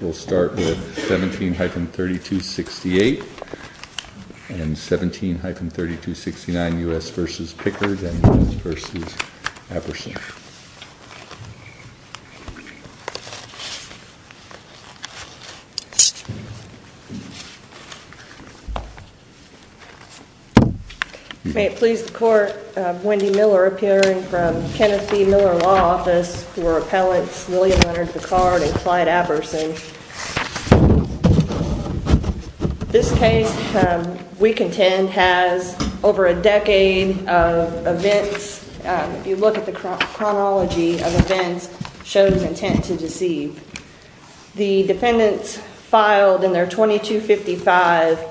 We'll start with 17-3268 and 17-3269 U.S. v. Pickard and U.S. v. Apperson. May it please the Court, Wendy Miller appearing from the Kenneth B. Miller Law Office for Appellants William Leonard Pickard and Clyde Apperson. This case, we contend, has over a decade of events. If you look at the chronology of events, it shows intent to deceive. The defendants filed in their 2255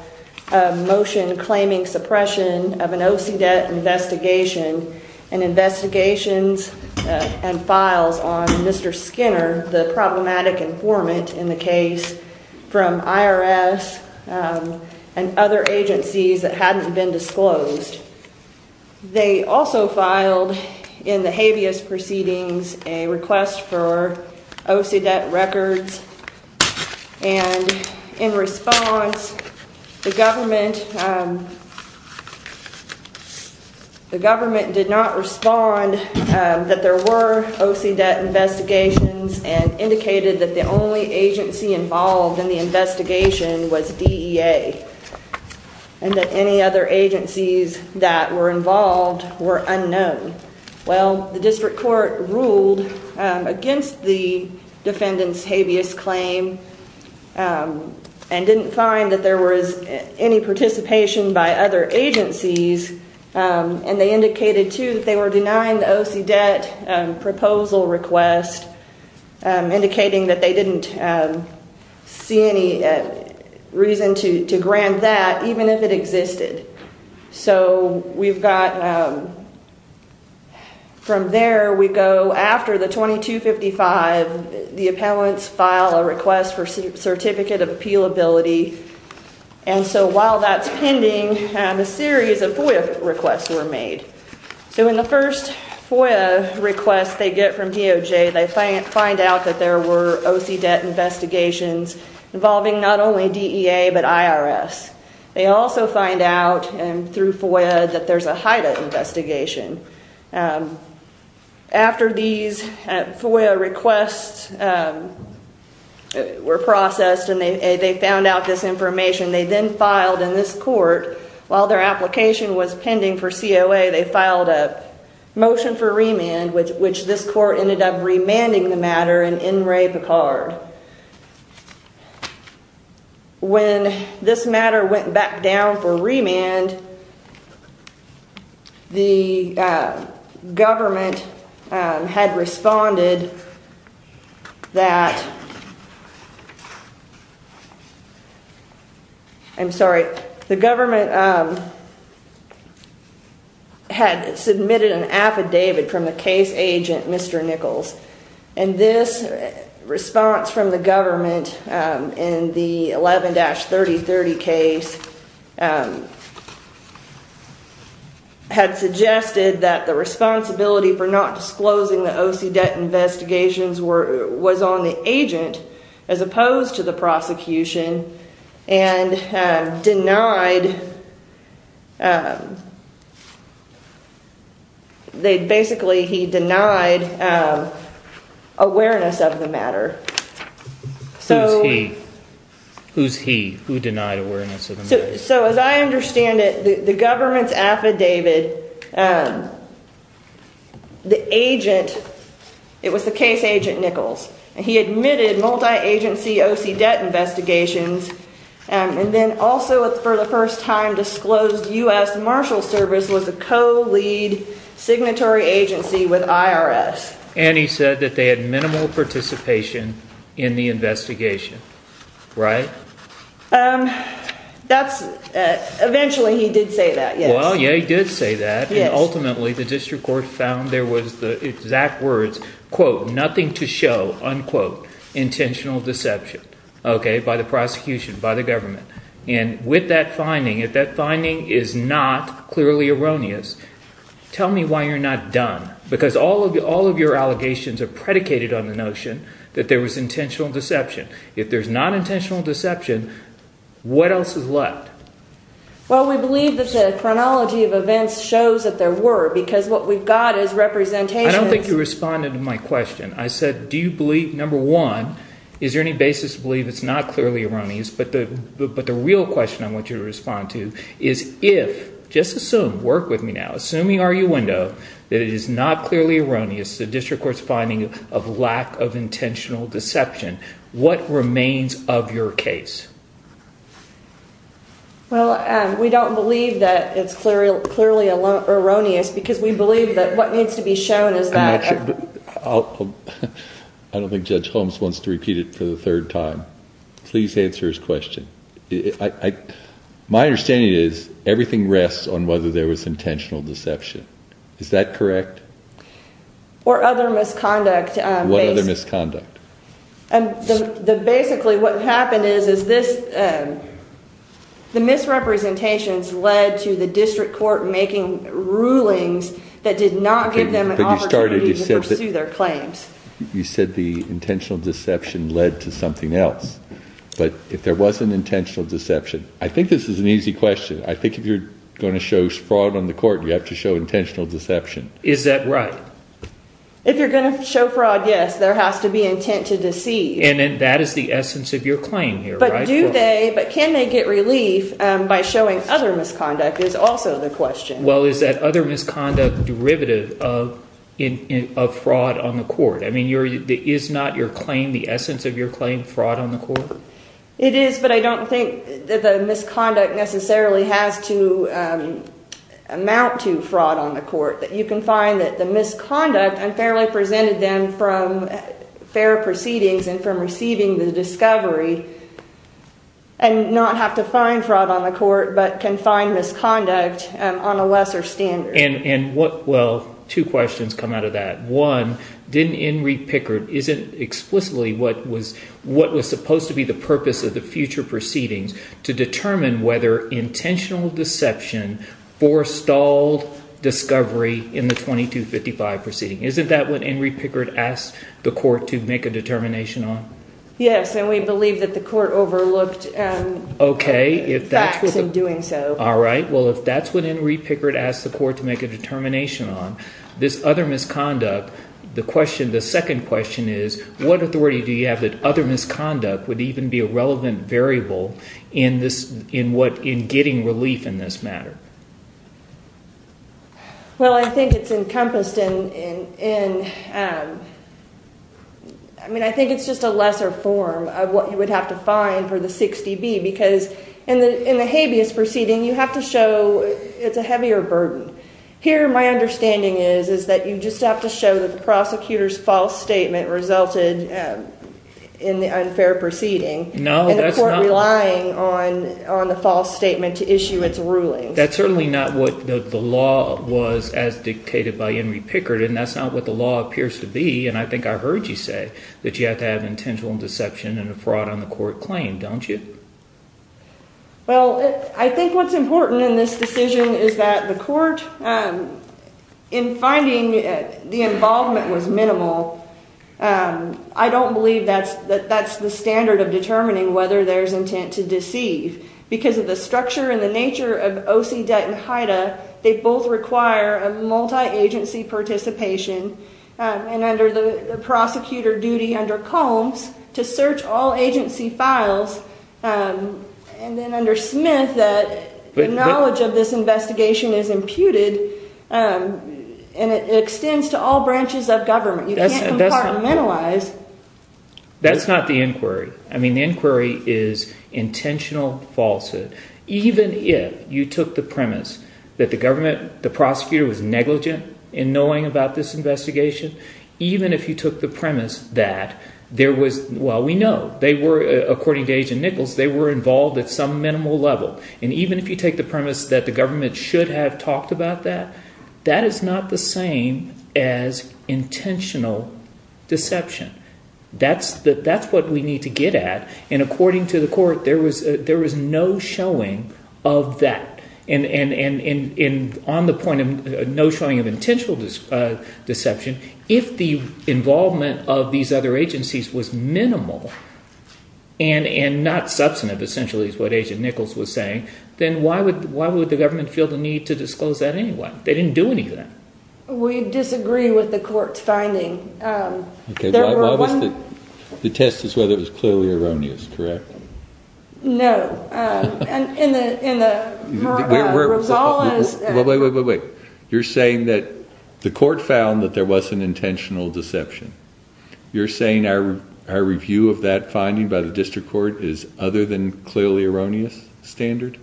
motion claiming suppression of an OCDET investigation and investigations and files on Mr. Skinner, the problematic informant in the case, from IRS and other agencies that hadn't been disclosed. They also filed in the habeas proceedings a request for OCDET records. In response, the government did not respond that there were OCDET investigations and indicated that the only agency involved in the investigation was DEA and that any other agencies that were involved were unknown. The district court ruled against the defendants' habeas claim and didn't find that there was any participation by other agencies. They indicated, too, that they were denying the OCDET proposal request, indicating that they didn't see any reason to grant that, even if it existed. From there, after the 2255, the appellants file a request for Certificate of Appealability. While that's pending, a series of FOIA requests were made. In the first FOIA request they get from DOJ, they find out that there were OCDET investigations involving not only DEA but IRS. They also find out, through FOIA, that there's a HIDTA investigation. After these FOIA requests were processed and they found out this information, they then filed in this court, while their application was pending for COA, they filed a motion for remand, which this court ended up remanding the matter in N. Ray Picard. When this matter went back down for remand, the government had responded that... I'm sorry, the government had submitted an affidavit from the case agent, Mr. Nichols, and this response from the government in the 11-3030 case had suggested that the responsibility for not disclosing the OCDET investigations was on the agent, as opposed to the prosecution, and basically he denied awareness of the matter. Who's he? Who denied awareness of the matter? As I understand it, the government's affidavit, the agent, it was the case agent Nichols, he admitted multi-agency OCDET investigations, and then also for the first time disclosed U.S. Marshals Service was a co-lead signatory agency with IRS. And he said that they had minimal participation in the investigation, right? Eventually he did say that, yes. Well, yeah, he did say that, and ultimately the district court found there was the exact words, quote, nothing to show, unquote, intentional deception, okay, by the prosecution, by the government. And with that finding, if that finding is not clearly erroneous, tell me why you're not done. Because all of your allegations are predicated on the notion that there was intentional deception. If there's not intentional deception, what else is left? Well, we believe that the chronology of events shows that there were, because what we've got is representations. I don't think you responded to my question. I said, do you believe, number one, is there any basis to believe it's not clearly erroneous? But the real question I want you to respond to is if, just assume, work with me now, assuming arguendo, that it is not clearly erroneous, the district court's finding of lack of intentional deception, what remains of your case? Well, we don't believe that it's clearly erroneous because we believe that what needs to be shown is that. I don't think Judge Holmes wants to repeat it for the third time. Please answer his question. My understanding is everything rests on whether there was intentional deception. Is that correct? Or other misconduct. What other misconduct? Basically what happened is the misrepresentations led to the district court making rulings that did not give them an opportunity to pursue their claims. You said the intentional deception led to something else. But if there wasn't intentional deception, I think this is an easy question. I think if you're going to show fraud on the court, you have to show intentional deception. Is that right? If you're going to show fraud, yes, there has to be intent to deceive. And that is the essence of your claim here, right? But can they get relief by showing other misconduct is also the question. Well, is that other misconduct derivative of fraud on the court? I mean, is not your claim the essence of your claim, fraud on the court? It is, but I don't think that the misconduct necessarily has to amount to fraud on the court. You can find that the misconduct unfairly presented them from fair proceedings and from receiving the discovery and not have to find fraud on the court but can find misconduct on a lesser standard. Well, two questions come out of that. One, didn't Enrique Pickard – isn't it explicitly what was supposed to be the purpose of the future proceedings to determine whether intentional deception forestalled discovery in the 2255 proceeding? Isn't that what Enrique Pickard asked the court to make a determination on? Yes, and we believe that the court overlooked facts in doing so. All right. Well, if that's what Enrique Pickard asked the court to make a determination on, this other misconduct, the question – the second question is what authority do you have that other misconduct would even be a relevant variable in this – in what – in getting relief in this matter? Well, I think it's encompassed in – I mean I think it's just a lesser form of what you would have to find for the 60B because in the habeas proceeding you have to show it's a heavier burden. Here my understanding is is that you just have to show that the prosecutor's false statement resulted in the unfair proceeding. No, that's not – And the court relying on the false statement to issue its ruling. That's certainly not what the law was as dictated by Enrique Pickard, and that's not what the law appears to be. And I think I heard you say that you have to have intentional deception and a fraud on the court claim, don't you? Well, I think what's important in this decision is that the court, in finding the involvement was minimal, I don't believe that that's the standard of determining whether there's intent to deceive. Because of the structure and the nature of OCDET and HIDTA, they both require a multi-agency participation, and under the prosecutor duty under Combs to search all agency files, and then under Smith that the knowledge of this investigation is imputed and it extends to all branches of government. You can't compartmentalize. That's not the inquiry. I mean the inquiry is intentional falsehood. Even if you took the premise that the government – the prosecutor was negligent in knowing about this investigation. Even if you took the premise that there was – well, we know. They were, according to Agent Nichols, they were involved at some minimal level. And even if you take the premise that the government should have talked about that, that is not the same as intentional deception. That's what we need to get at. And according to the court, there was no showing of that. And on the point of no showing of intentional deception, if the involvement of these other agencies was minimal and not substantive, essentially is what Agent Nichols was saying, then why would the government feel the need to disclose that anyway? They didn't do any of that. We disagree with the court's finding. The test is whether it was clearly erroneous, correct? No. Wait, wait, wait, wait. You're saying that the court found that there wasn't intentional deception. You're saying our review of that finding by the district court is other than clearly erroneous standard?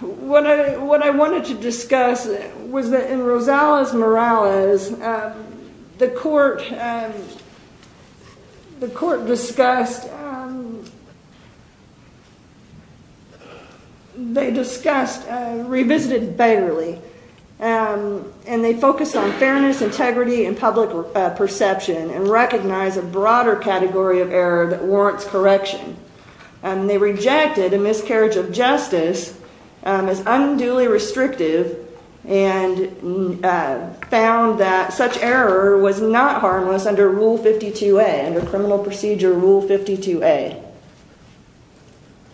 What I wanted to discuss was that in Rosales-Morales, the court discussed – they discussed – revisited Bayerly. And they focused on fairness, integrity, and public perception and recognized a broader category of error that warrants correction. They rejected a miscarriage of justice as unduly restrictive and found that such error was not harmless under Rule 52A, under criminal procedure Rule 52A.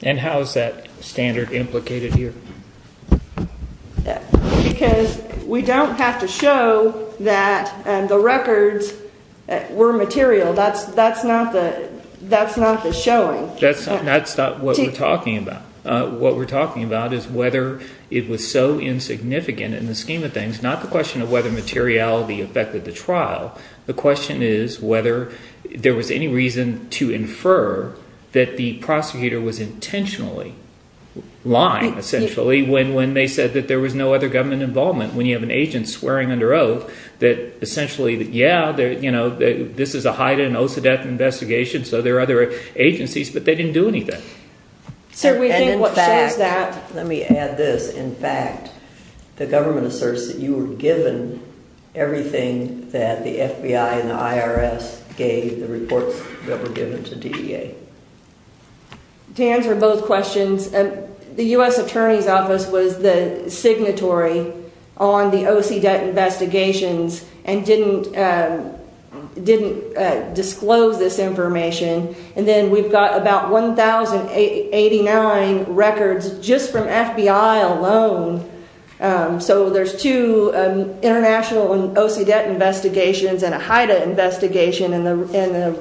And how is that standard implicated here? Because we don't have to show that the records were material. That's not the showing. That's not what we're talking about. What we're talking about is whether it was so insignificant in the scheme of things, not the question of whether materiality affected the trial. The question is whether there was any reason to infer that the prosecutor was intentionally lying, essentially, when they said that there was no other government involvement. When you have an agent swearing under oath that essentially, yeah, this is a Haida and OCDETH investigation, so there are other agencies, but they didn't do anything. Let me add this. In fact, the government asserts that you were given everything that the FBI and the IRS gave, the reports that were given to DEA. To answer both questions, the U.S. Attorney's Office was the signatory on the OCDETH investigations and didn't disclose this information. And then we've got about 1,089 records just from FBI alone. So there's two international OCDETH investigations and a Haida investigation, and the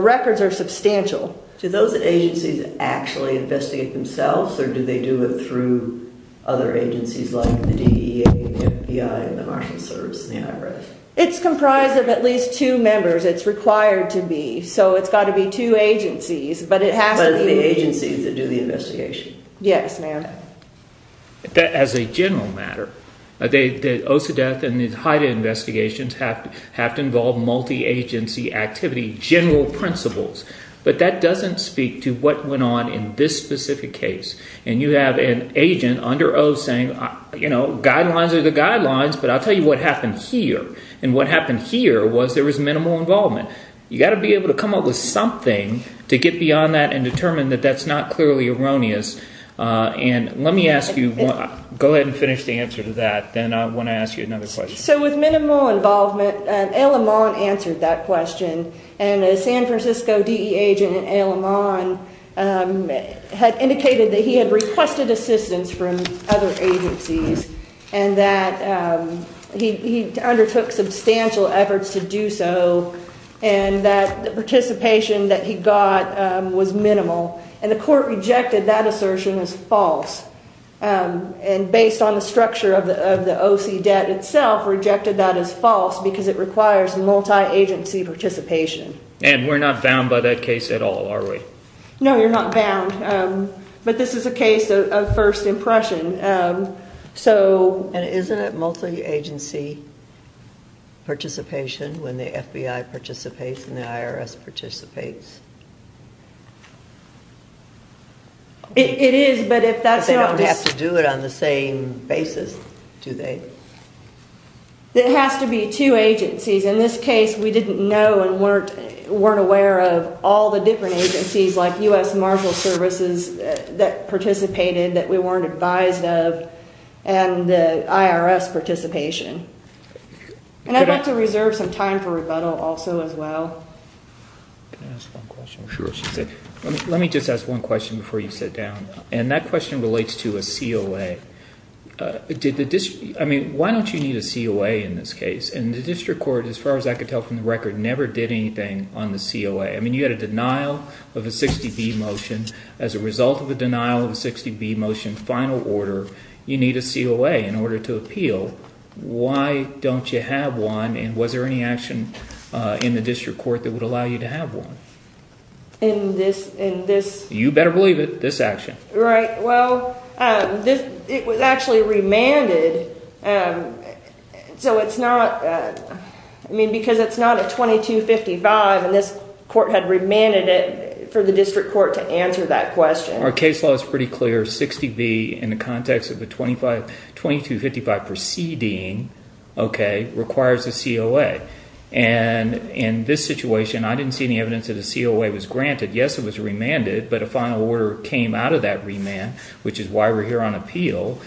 records are substantial. Do those agencies actually investigate themselves, or do they do it through other agencies like the DEA, the FBI, the National Service, and the IRS? It's comprised of at least two members. It's required to be, so it's got to be two agencies. But it has to be agencies that do the investigation. Yes, ma'am. As a general matter, the OCDETH and the Haida investigations have to involve multi-agency activity, general principles. But that doesn't speak to what went on in this specific case. And you have an agent under oath saying, you know, guidelines are the guidelines, but I'll tell you what happened here. And what happened here was there was minimal involvement. You've got to be able to come up with something to get beyond that and determine that that's not clearly erroneous. And let me ask you, go ahead and finish the answer to that, then I want to ask you another question. So with minimal involvement, Al-Aman answered that question. And a San Francisco DEA agent, Al-Aman, had indicated that he had requested assistance from other agencies and that he undertook substantial efforts to do so and that the participation that he got was minimal. And the court rejected that assertion as false. And based on the structure of the OCDETH itself, rejected that as false because it requires multi-agency participation. And we're not bound by that case at all, are we? No, you're not bound. But this is a case of first impression. And isn't it multi-agency participation when the FBI participates and the IRS participates? It is, but if that's not... They don't have to do it on the same basis, do they? It has to be two agencies. In this case, we didn't know and weren't aware of all the different agencies like U.S. Marshal Services that participated that we weren't advised of and the IRS participation. And I'd like to reserve some time for rebuttal also as well. Can I ask one question? Sure. Let me just ask one question before you sit down. And that question relates to a COA. I mean, why don't you need a COA in this case? And the district court, as far as I could tell from the record, never did anything on the COA. I mean, you had a denial of a 60B motion. As a result of a denial of a 60B motion, final order, you need a COA in order to appeal. Why don't you have one? And was there any action in the district court that would allow you to have one? In this... You better believe it, this action. Right. Well, it was actually remanded. So it's not... I mean, because it's not a 2255 and this court had remanded it for the district court to answer that question. Our case law is pretty clear. 60B, in the context of a 2255 proceeding, okay, requires a COA. And in this situation, I didn't see any evidence that a COA was granted. Yes, it was remanded, but a final order came out of that remand, which is why we're here on appeal.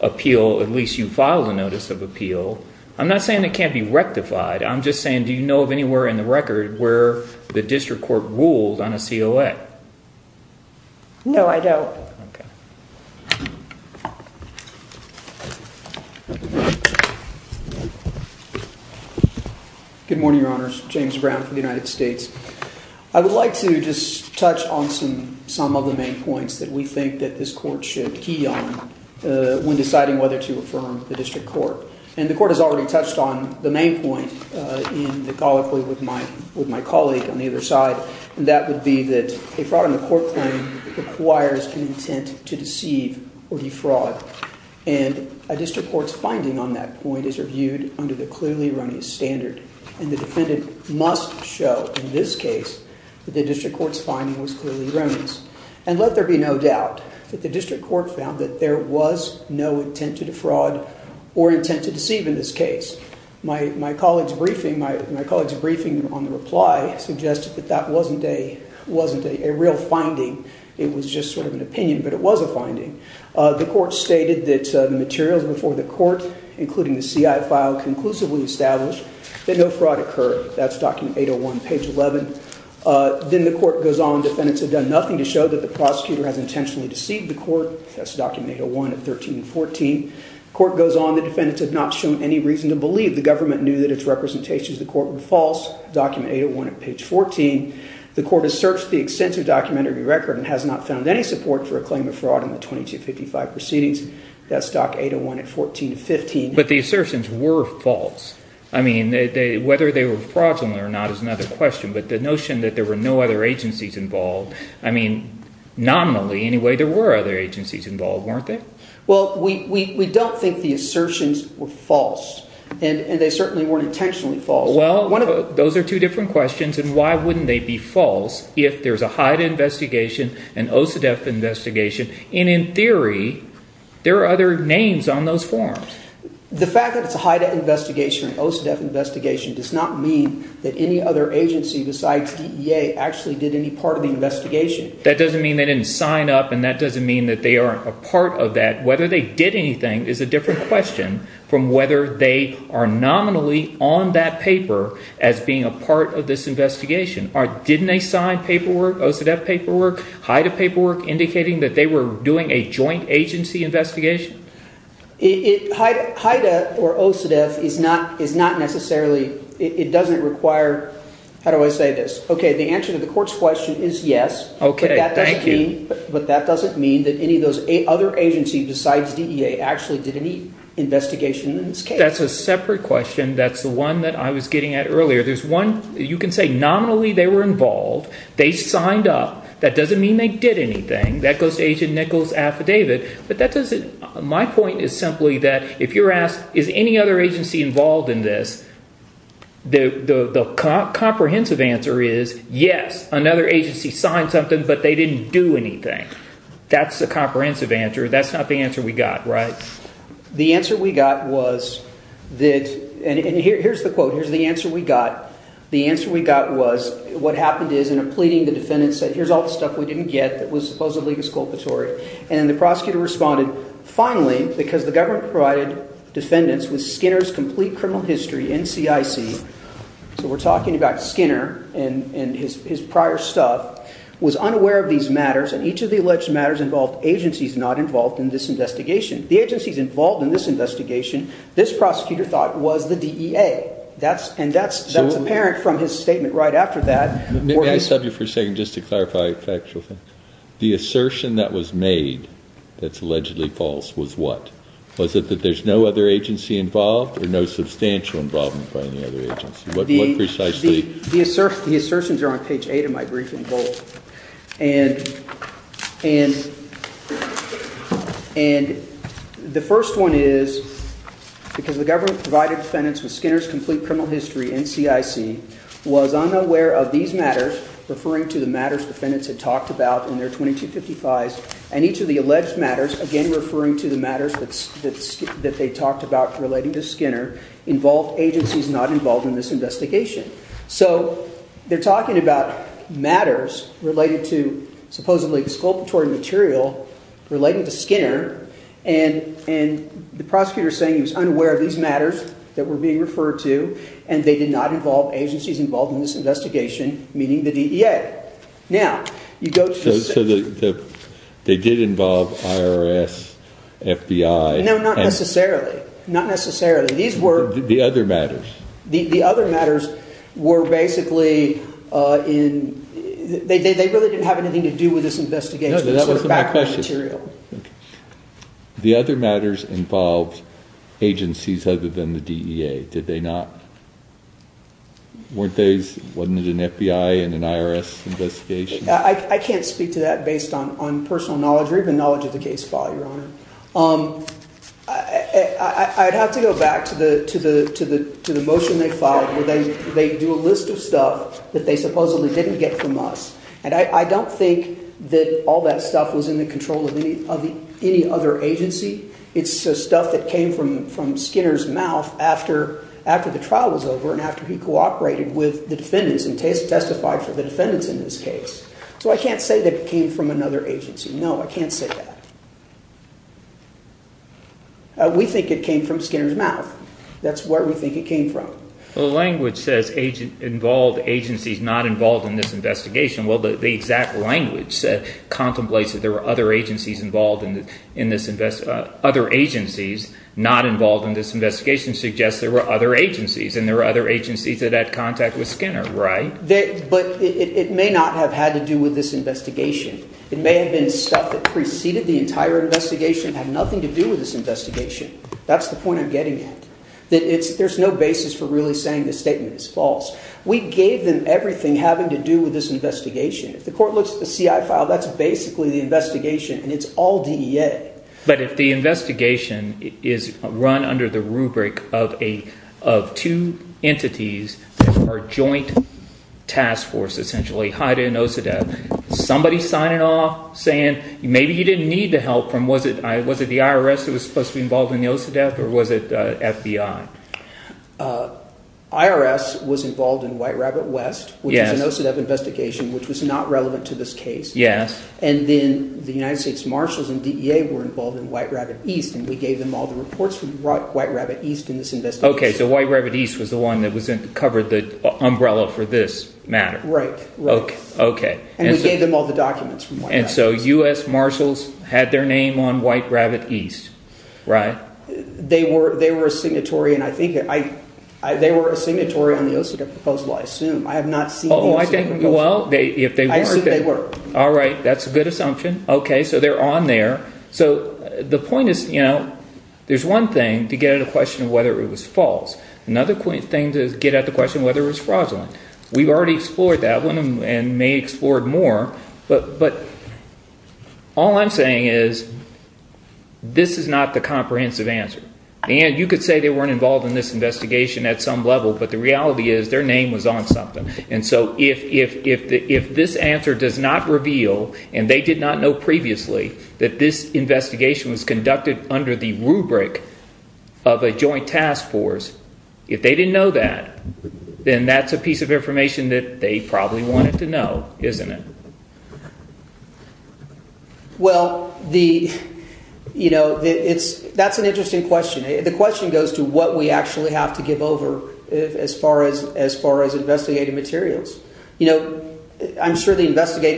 Appeal, at least you filed a notice of appeal. I'm not saying it can't be rectified. I'm just saying, do you know of anywhere in the record where the district court ruled on a COA? No, I don't. Okay. Good morning, Your Honors. James Brown from the United States. I would like to just touch on some of the main points that we think that this court should key on when deciding whether to affirm the district court. And the court has already touched on the main point in the colloquy with my colleague on the other side, and that would be that a fraud on the court claim requires an intent to deceive or defraud. And a district court's finding on that point is reviewed under the clearly erroneous standard, and the defendant must show in this case that the district court's finding was clearly erroneous. And let there be no doubt that the district court found that there was no intent to defraud or intent to deceive in this case. My colleague's briefing on the reply suggested that that wasn't a real finding. It was just sort of an opinion, but it was a finding. The court stated that the materials before the court, including the CI file, conclusively established that no fraud occurred. That's document 801, page 11. Then the court goes on. Defendants have done nothing to show that the prosecutor has intentionally deceived the court. That's document 801 at 13 and 14. The court goes on. The defendants have not shown any reason to believe the government knew that its representations to the court were false. Document 801 at page 14. The court has searched the extensive documentary record and has not found any support for a claim of fraud in the 2255 proceedings. That's document 801 at 14 and 15. But the assertions were false. I mean, whether they were fraudulent or not is another question. But the notion that there were no other agencies involved, I mean, nominally, anyway, there were other agencies involved, weren't there? Well, we don't think the assertions were false. And they certainly weren't intentionally false. Well, those are two different questions. And why wouldn't they be false if there's a HIDTA investigation, an OCDET investigation? And in theory, there are other names on those forms. The fact that it's a HIDTA investigation or an OCDET investigation does not mean that any other agency besides DEA actually did any part of the investigation. That doesn't mean they didn't sign up and that doesn't mean that they aren't a part of that. Whether they did anything is a different question from whether they are nominally on that paper as being a part of this investigation. Didn't they sign paperwork, OCDET paperwork, HIDTA paperwork indicating that they were doing a joint agency investigation? HIDTA or OCDET is not necessarily – it doesn't require – how do I say this? OK, the answer to the court's question is yes. OK, thank you. But that doesn't mean that any of those other agencies besides DEA actually did any investigation in this case. That's a separate question. That's the one that I was getting at earlier. There's one – you can say nominally they were involved. They signed up. That doesn't mean they did anything. That goes to Agent Nichols' affidavit. But that doesn't – my point is simply that if you're asked is any other agency involved in this, the comprehensive answer is yes, another agency signed something, but they didn't do anything. That's the comprehensive answer. That's not the answer we got, right? The answer we got was that – and here's the quote. Here's the answer we got. The answer we got was what happened is in a pleading the defendant said here's all the stuff we didn't get that was supposedly exculpatory. And the prosecutor responded finally because the government provided defendants with Skinner's complete criminal history, NCIC. So we're talking about Skinner and his prior stuff, was unaware of these matters, and each of the alleged matters involved agencies not involved in this investigation. The agencies involved in this investigation, this prosecutor thought, was the DEA. And that's apparent from his statement right after that. May I stop you for a second just to clarify a factual thing? The assertion that was made that's allegedly false was what? Was it that there's no other agency involved or no substantial involvement by any other agency? What precisely – The assertions are on page 8 of my briefing book. And the first one is because the government provided defendants with Skinner's complete criminal history, NCIC, was unaware of these matters, referring to the matters defendants had talked about in their 2255s, and each of the alleged matters, again referring to the matters that they talked about relating to Skinner, involved agencies not involved in this investigation. So they're talking about matters related to supposedly exculpatory material relating to Skinner, and the prosecutor's saying he was unaware of these matters that were being referred to, and they did not involve agencies involved in this investigation, meaning the DEA. Now, you go to the – So they did involve IRS, FBI – No, not necessarily. Not necessarily. These were – The other matters. The other matters were basically in – they really didn't have anything to do with this investigation. No, that wasn't my question. The other matters involved agencies other than the DEA, did they not? Weren't those – wasn't it an FBI and an IRS investigation? I can't speak to that based on personal knowledge or even knowledge of the case file, Your Honor. I'd have to go back to the motion they filed where they do a list of stuff that they supposedly didn't get from us, and I don't think that all that stuff was in the control of any other agency. It's stuff that came from Skinner's mouth after the trial was over and after he cooperated with the defendants and testified for the defendants in this case. So I can't say that it came from another agency. No, I can't say that. We think it came from Skinner's mouth. That's where we think it came from. Well, the language says involved agencies not involved in this investigation. Well, the exact language contemplates that there were other agencies involved in this – other agencies not involved in this investigation suggests there were other agencies, and there were other agencies that had contact with Skinner, right? But it may not have had to do with this investigation. It may have been stuff that preceded the entire investigation that had nothing to do with this investigation. That's the point I'm getting at. There's no basis for really saying this statement is false. We gave them everything having to do with this investigation. If the court looks at the CI file, that's basically the investigation, and it's all DEA. But if the investigation is run under the rubric of two entities that are a joint task force, essentially, HIDA and OCDET, somebody signing off saying maybe you didn't need the help from – was it the IRS that was supposed to be involved in the OCDET or was it FBI? IRS was involved in White Rabbit West, which is an OCDET investigation, which was not relevant to this case. And then the United States Marshals and DEA were involved in White Rabbit East, and we gave them all the reports from White Rabbit East in this investigation. Okay, so White Rabbit East was the one that covered the umbrella for this matter. Right. Okay. And we gave them all the documents from White Rabbit East. And so U.S. Marshals had their name on White Rabbit East, right? They were a signatory, and I think – they were a signatory on the OCDET proposal, I assume. I have not seen the OCDET proposal. Oh, I think – well, if they weren't – I assume they were. All right, that's a good assumption. Okay, so they're on there. So the point is there's one thing to get at the question of whether it was false. Another thing to get at the question of whether it was fraudulent. We've already explored that one and may explore it more. But all I'm saying is this is not the comprehensive answer. And you could say they weren't involved in this investigation at some level, but the reality is their name was on something. And so if this answer does not reveal, and they did not know previously, that this investigation was conducted under the rubric of a joint task force, if they didn't know that, then that's a piece of information that they probably wanted to know, isn't it? Well, you know, that's an interesting question. The question goes to what we actually have to give over as far as investigative materials. You know, I'm sure the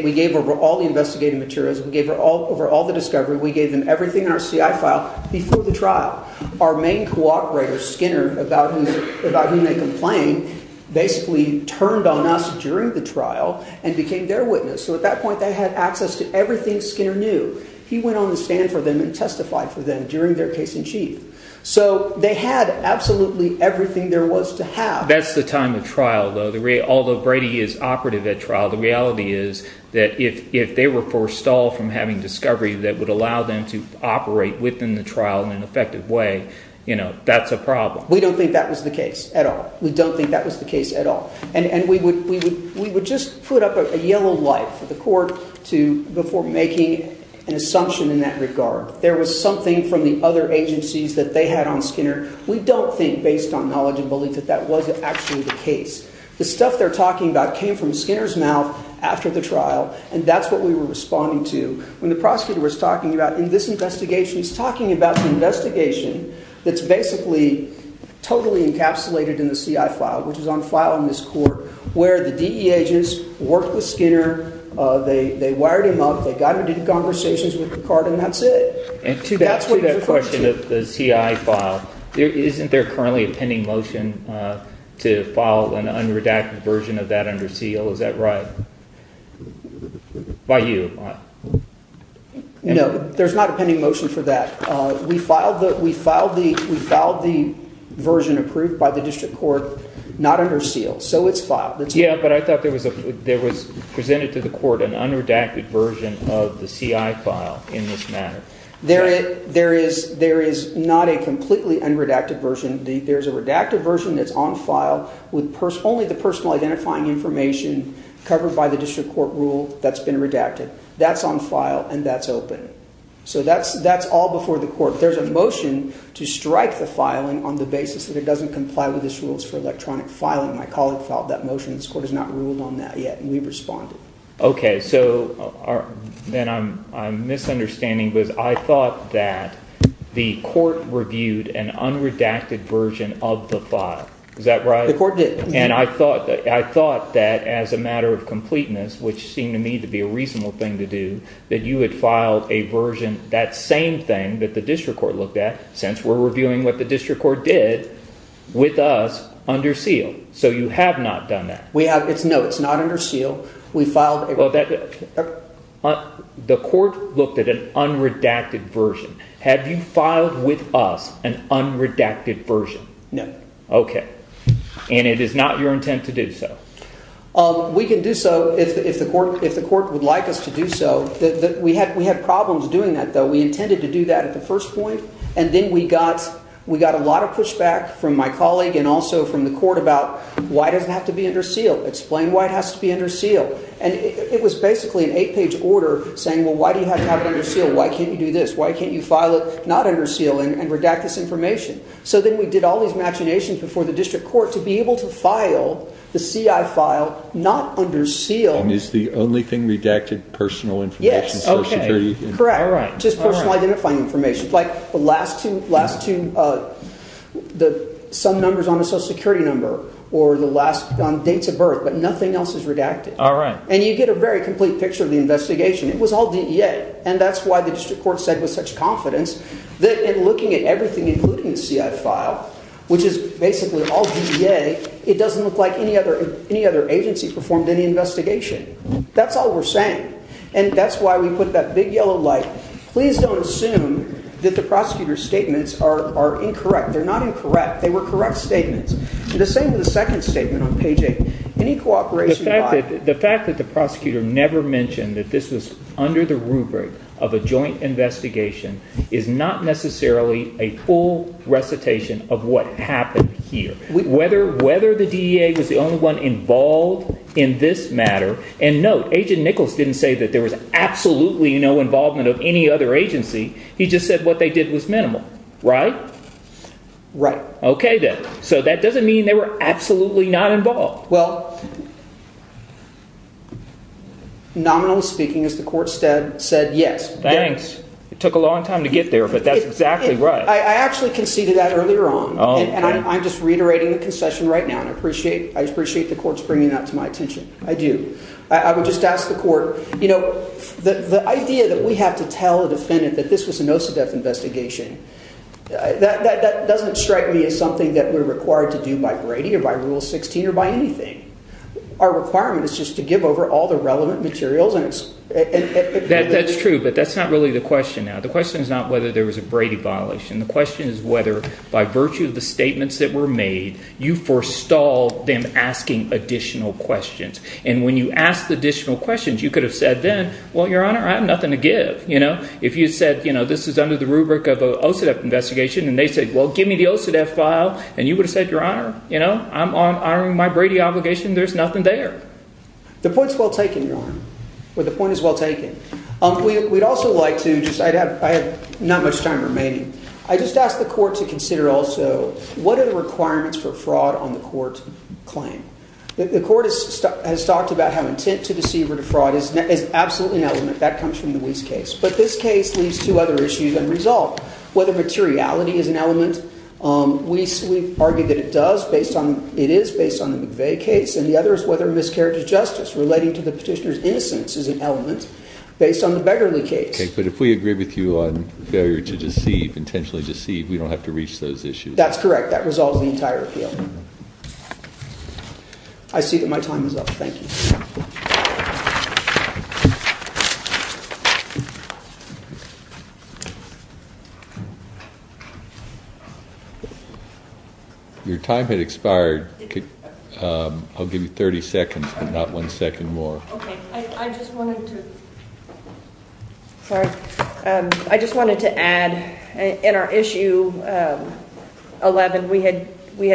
– we gave over all the investigative materials. We gave over all the discovery. We gave them everything in our CI file before the trial. Our main cooperator, Skinner, about whom they complained, basically turned on us during the trial and became their witness. So at that point they had access to everything Skinner knew. He went on the stand for them and testified for them during their case in chief. So they had absolutely everything there was to have. That's the time of trial, though. Although Brady is operative at trial, the reality is that if they were forced off from having discovery that would allow them to operate within the trial in an effective way, you know, that's a problem. We don't think that was the case at all. We don't think that was the case at all. And we would just put up a yellow light for the court before making an assumption in that regard. There was something from the other agencies that they had on Skinner. We don't think, based on knowledge and belief, that that was actually the case. The stuff they're talking about came from Skinner's mouth after the trial, and that's what we were responding to. When the prosecutor was talking about in this investigation, he's talking about an investigation that's basically totally encapsulated in the CI file, which is on file in this court, where the DEA agents worked with Skinner. They wired him up. They got into conversations with Picard, and that's it. That's what you're referring to. And to that question of the CI file, isn't there currently a pending motion to file an unredacted version of that under seal? Is that right? By you. No, there's not a pending motion for that. We filed the version approved by the district court not under seal, so it's filed. Yeah, but I thought there was presented to the court an unredacted version of the CI file in this matter. There is not a completely unredacted version. There's a redacted version that's on file with only the personal identifying information covered by the district court rule that's been redacted. That's on file, and that's open. So that's all before the court. There's a motion to strike the filing on the basis that it doesn't comply with these rules for electronic filing. My colleague filed that motion. This court has not ruled on that yet, and we've responded. Okay, so then I'm misunderstanding because I thought that the court reviewed an unredacted version of the file. Is that right? The court did. And I thought that as a matter of completeness, which seemed to me to be a reasonable thing to do, that you had filed a version, that same thing that the district court looked at, since we're reviewing what the district court did, with us, under seal. So you have not done that. No, it's not under seal. Well, the court looked at an unredacted version. Have you filed with us an unredacted version? No. Okay. And it is not your intent to do so. We can do so if the court would like us to do so. We had problems doing that, though. We intended to do that at the first point, and then we got a lot of pushback from my colleague and also from the court about why does it have to be under seal. Explain why it has to be under seal. And it was basically an eight-page order saying, well, why do you have to have it under seal? Why can't you do this? Why can't you file it not under seal and redact this information? So then we did all these machinations before the district court to be able to file the CI file not under seal. And is the only thing redacted personal information? Yes. Okay. Correct. Just personal identifying information. Like the last two, some numbers on the Social Security number or the last dates of birth. But nothing else is redacted. All right. And you get a very complete picture of the investigation. It was all DEA. And that's why the district court said with such confidence that in looking at everything, including the CI file, which is basically all DEA, it doesn't look like any other agency performed any investigation. That's all we're saying. And that's why we put that big yellow light. Please don't assume that the prosecutor's statements are incorrect. They're not incorrect. They were correct statements. The same with the second statement on page 8. Any cooperation… The fact that the prosecutor never mentioned that this was under the rubric of a joint investigation is not necessarily a full recitation of what happened here. Whether the DEA was the only one involved in this matter… And note, Agent Nichols didn't say that there was absolutely no involvement of any other agency. He just said what they did was minimal. Right? Right. Okay, then. So that doesn't mean they were absolutely not involved. Well, nominally speaking, as the court said, yes. Thanks. It took a long time to get there, but that's exactly right. I actually conceded that earlier on. And I'm just reiterating the concession right now, and I appreciate the court's bringing that to my attention. I do. I would just ask the court, you know, the idea that we have to tell a defendant that this was an OCDETF investigation, that doesn't strike me as something that we're required to do by Brady or by Rule 16 or by anything. Our requirement is just to give over all the relevant materials. That's true, but that's not really the question now. The question is not whether there was a Brady violation. The question is whether, by virtue of the statements that were made, you forestalled them asking additional questions. And when you asked additional questions, you could have said then, well, Your Honor, I have nothing to give. If you said this is under the rubric of an OCDETF investigation, and they said, well, give me the OCDETF file, and you would have said, Your Honor, I'm honoring my Brady obligation, there's nothing there. The point is well taken, Your Honor. The point is well taken. We'd also like to just – I have not much time remaining. I just ask the court to consider also what are the requirements for fraud on the court claim? The court has talked about how intent to deceive or defraud is absolutely an element. That comes from the Weiss case. But this case leaves two other issues unresolved. Whether materiality is an element, we argue that it does based on – it is based on the McVeigh case, and the other is whether miscarriage of justice relating to the petitioner's innocence is an element. Based on the Beggarly case. But if we agree with you on failure to deceive, intentionally deceive, we don't have to reach those issues. That's correct. That resolves the entire appeal. I see that my time is up. Thank you. Your time had expired. I'll give you 30 seconds but not one second more. Okay. I just wanted to – sorry. I just wanted to add in our issue 11, we had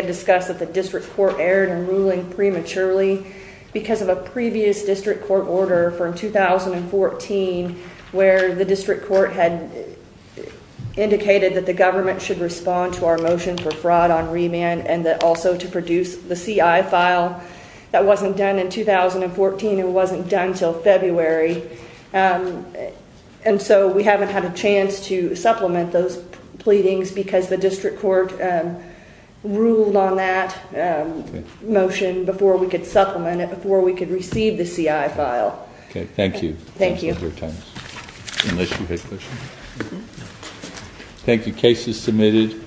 discussed that the district court erred in ruling prematurely because of a previous district court order from 2014 where the district court had indicated that the government should respond to our motion for fraud on remand and that also to produce the CI file. That wasn't done in 2014. It wasn't done until February. And so we haven't had a chance to supplement those pleadings because the district court ruled on that motion before we could supplement it, before we could receive the CI file. Okay. Thank you. Thank you. Thanks for your time. Unless you had questions? No. Thank you. Case is submitted.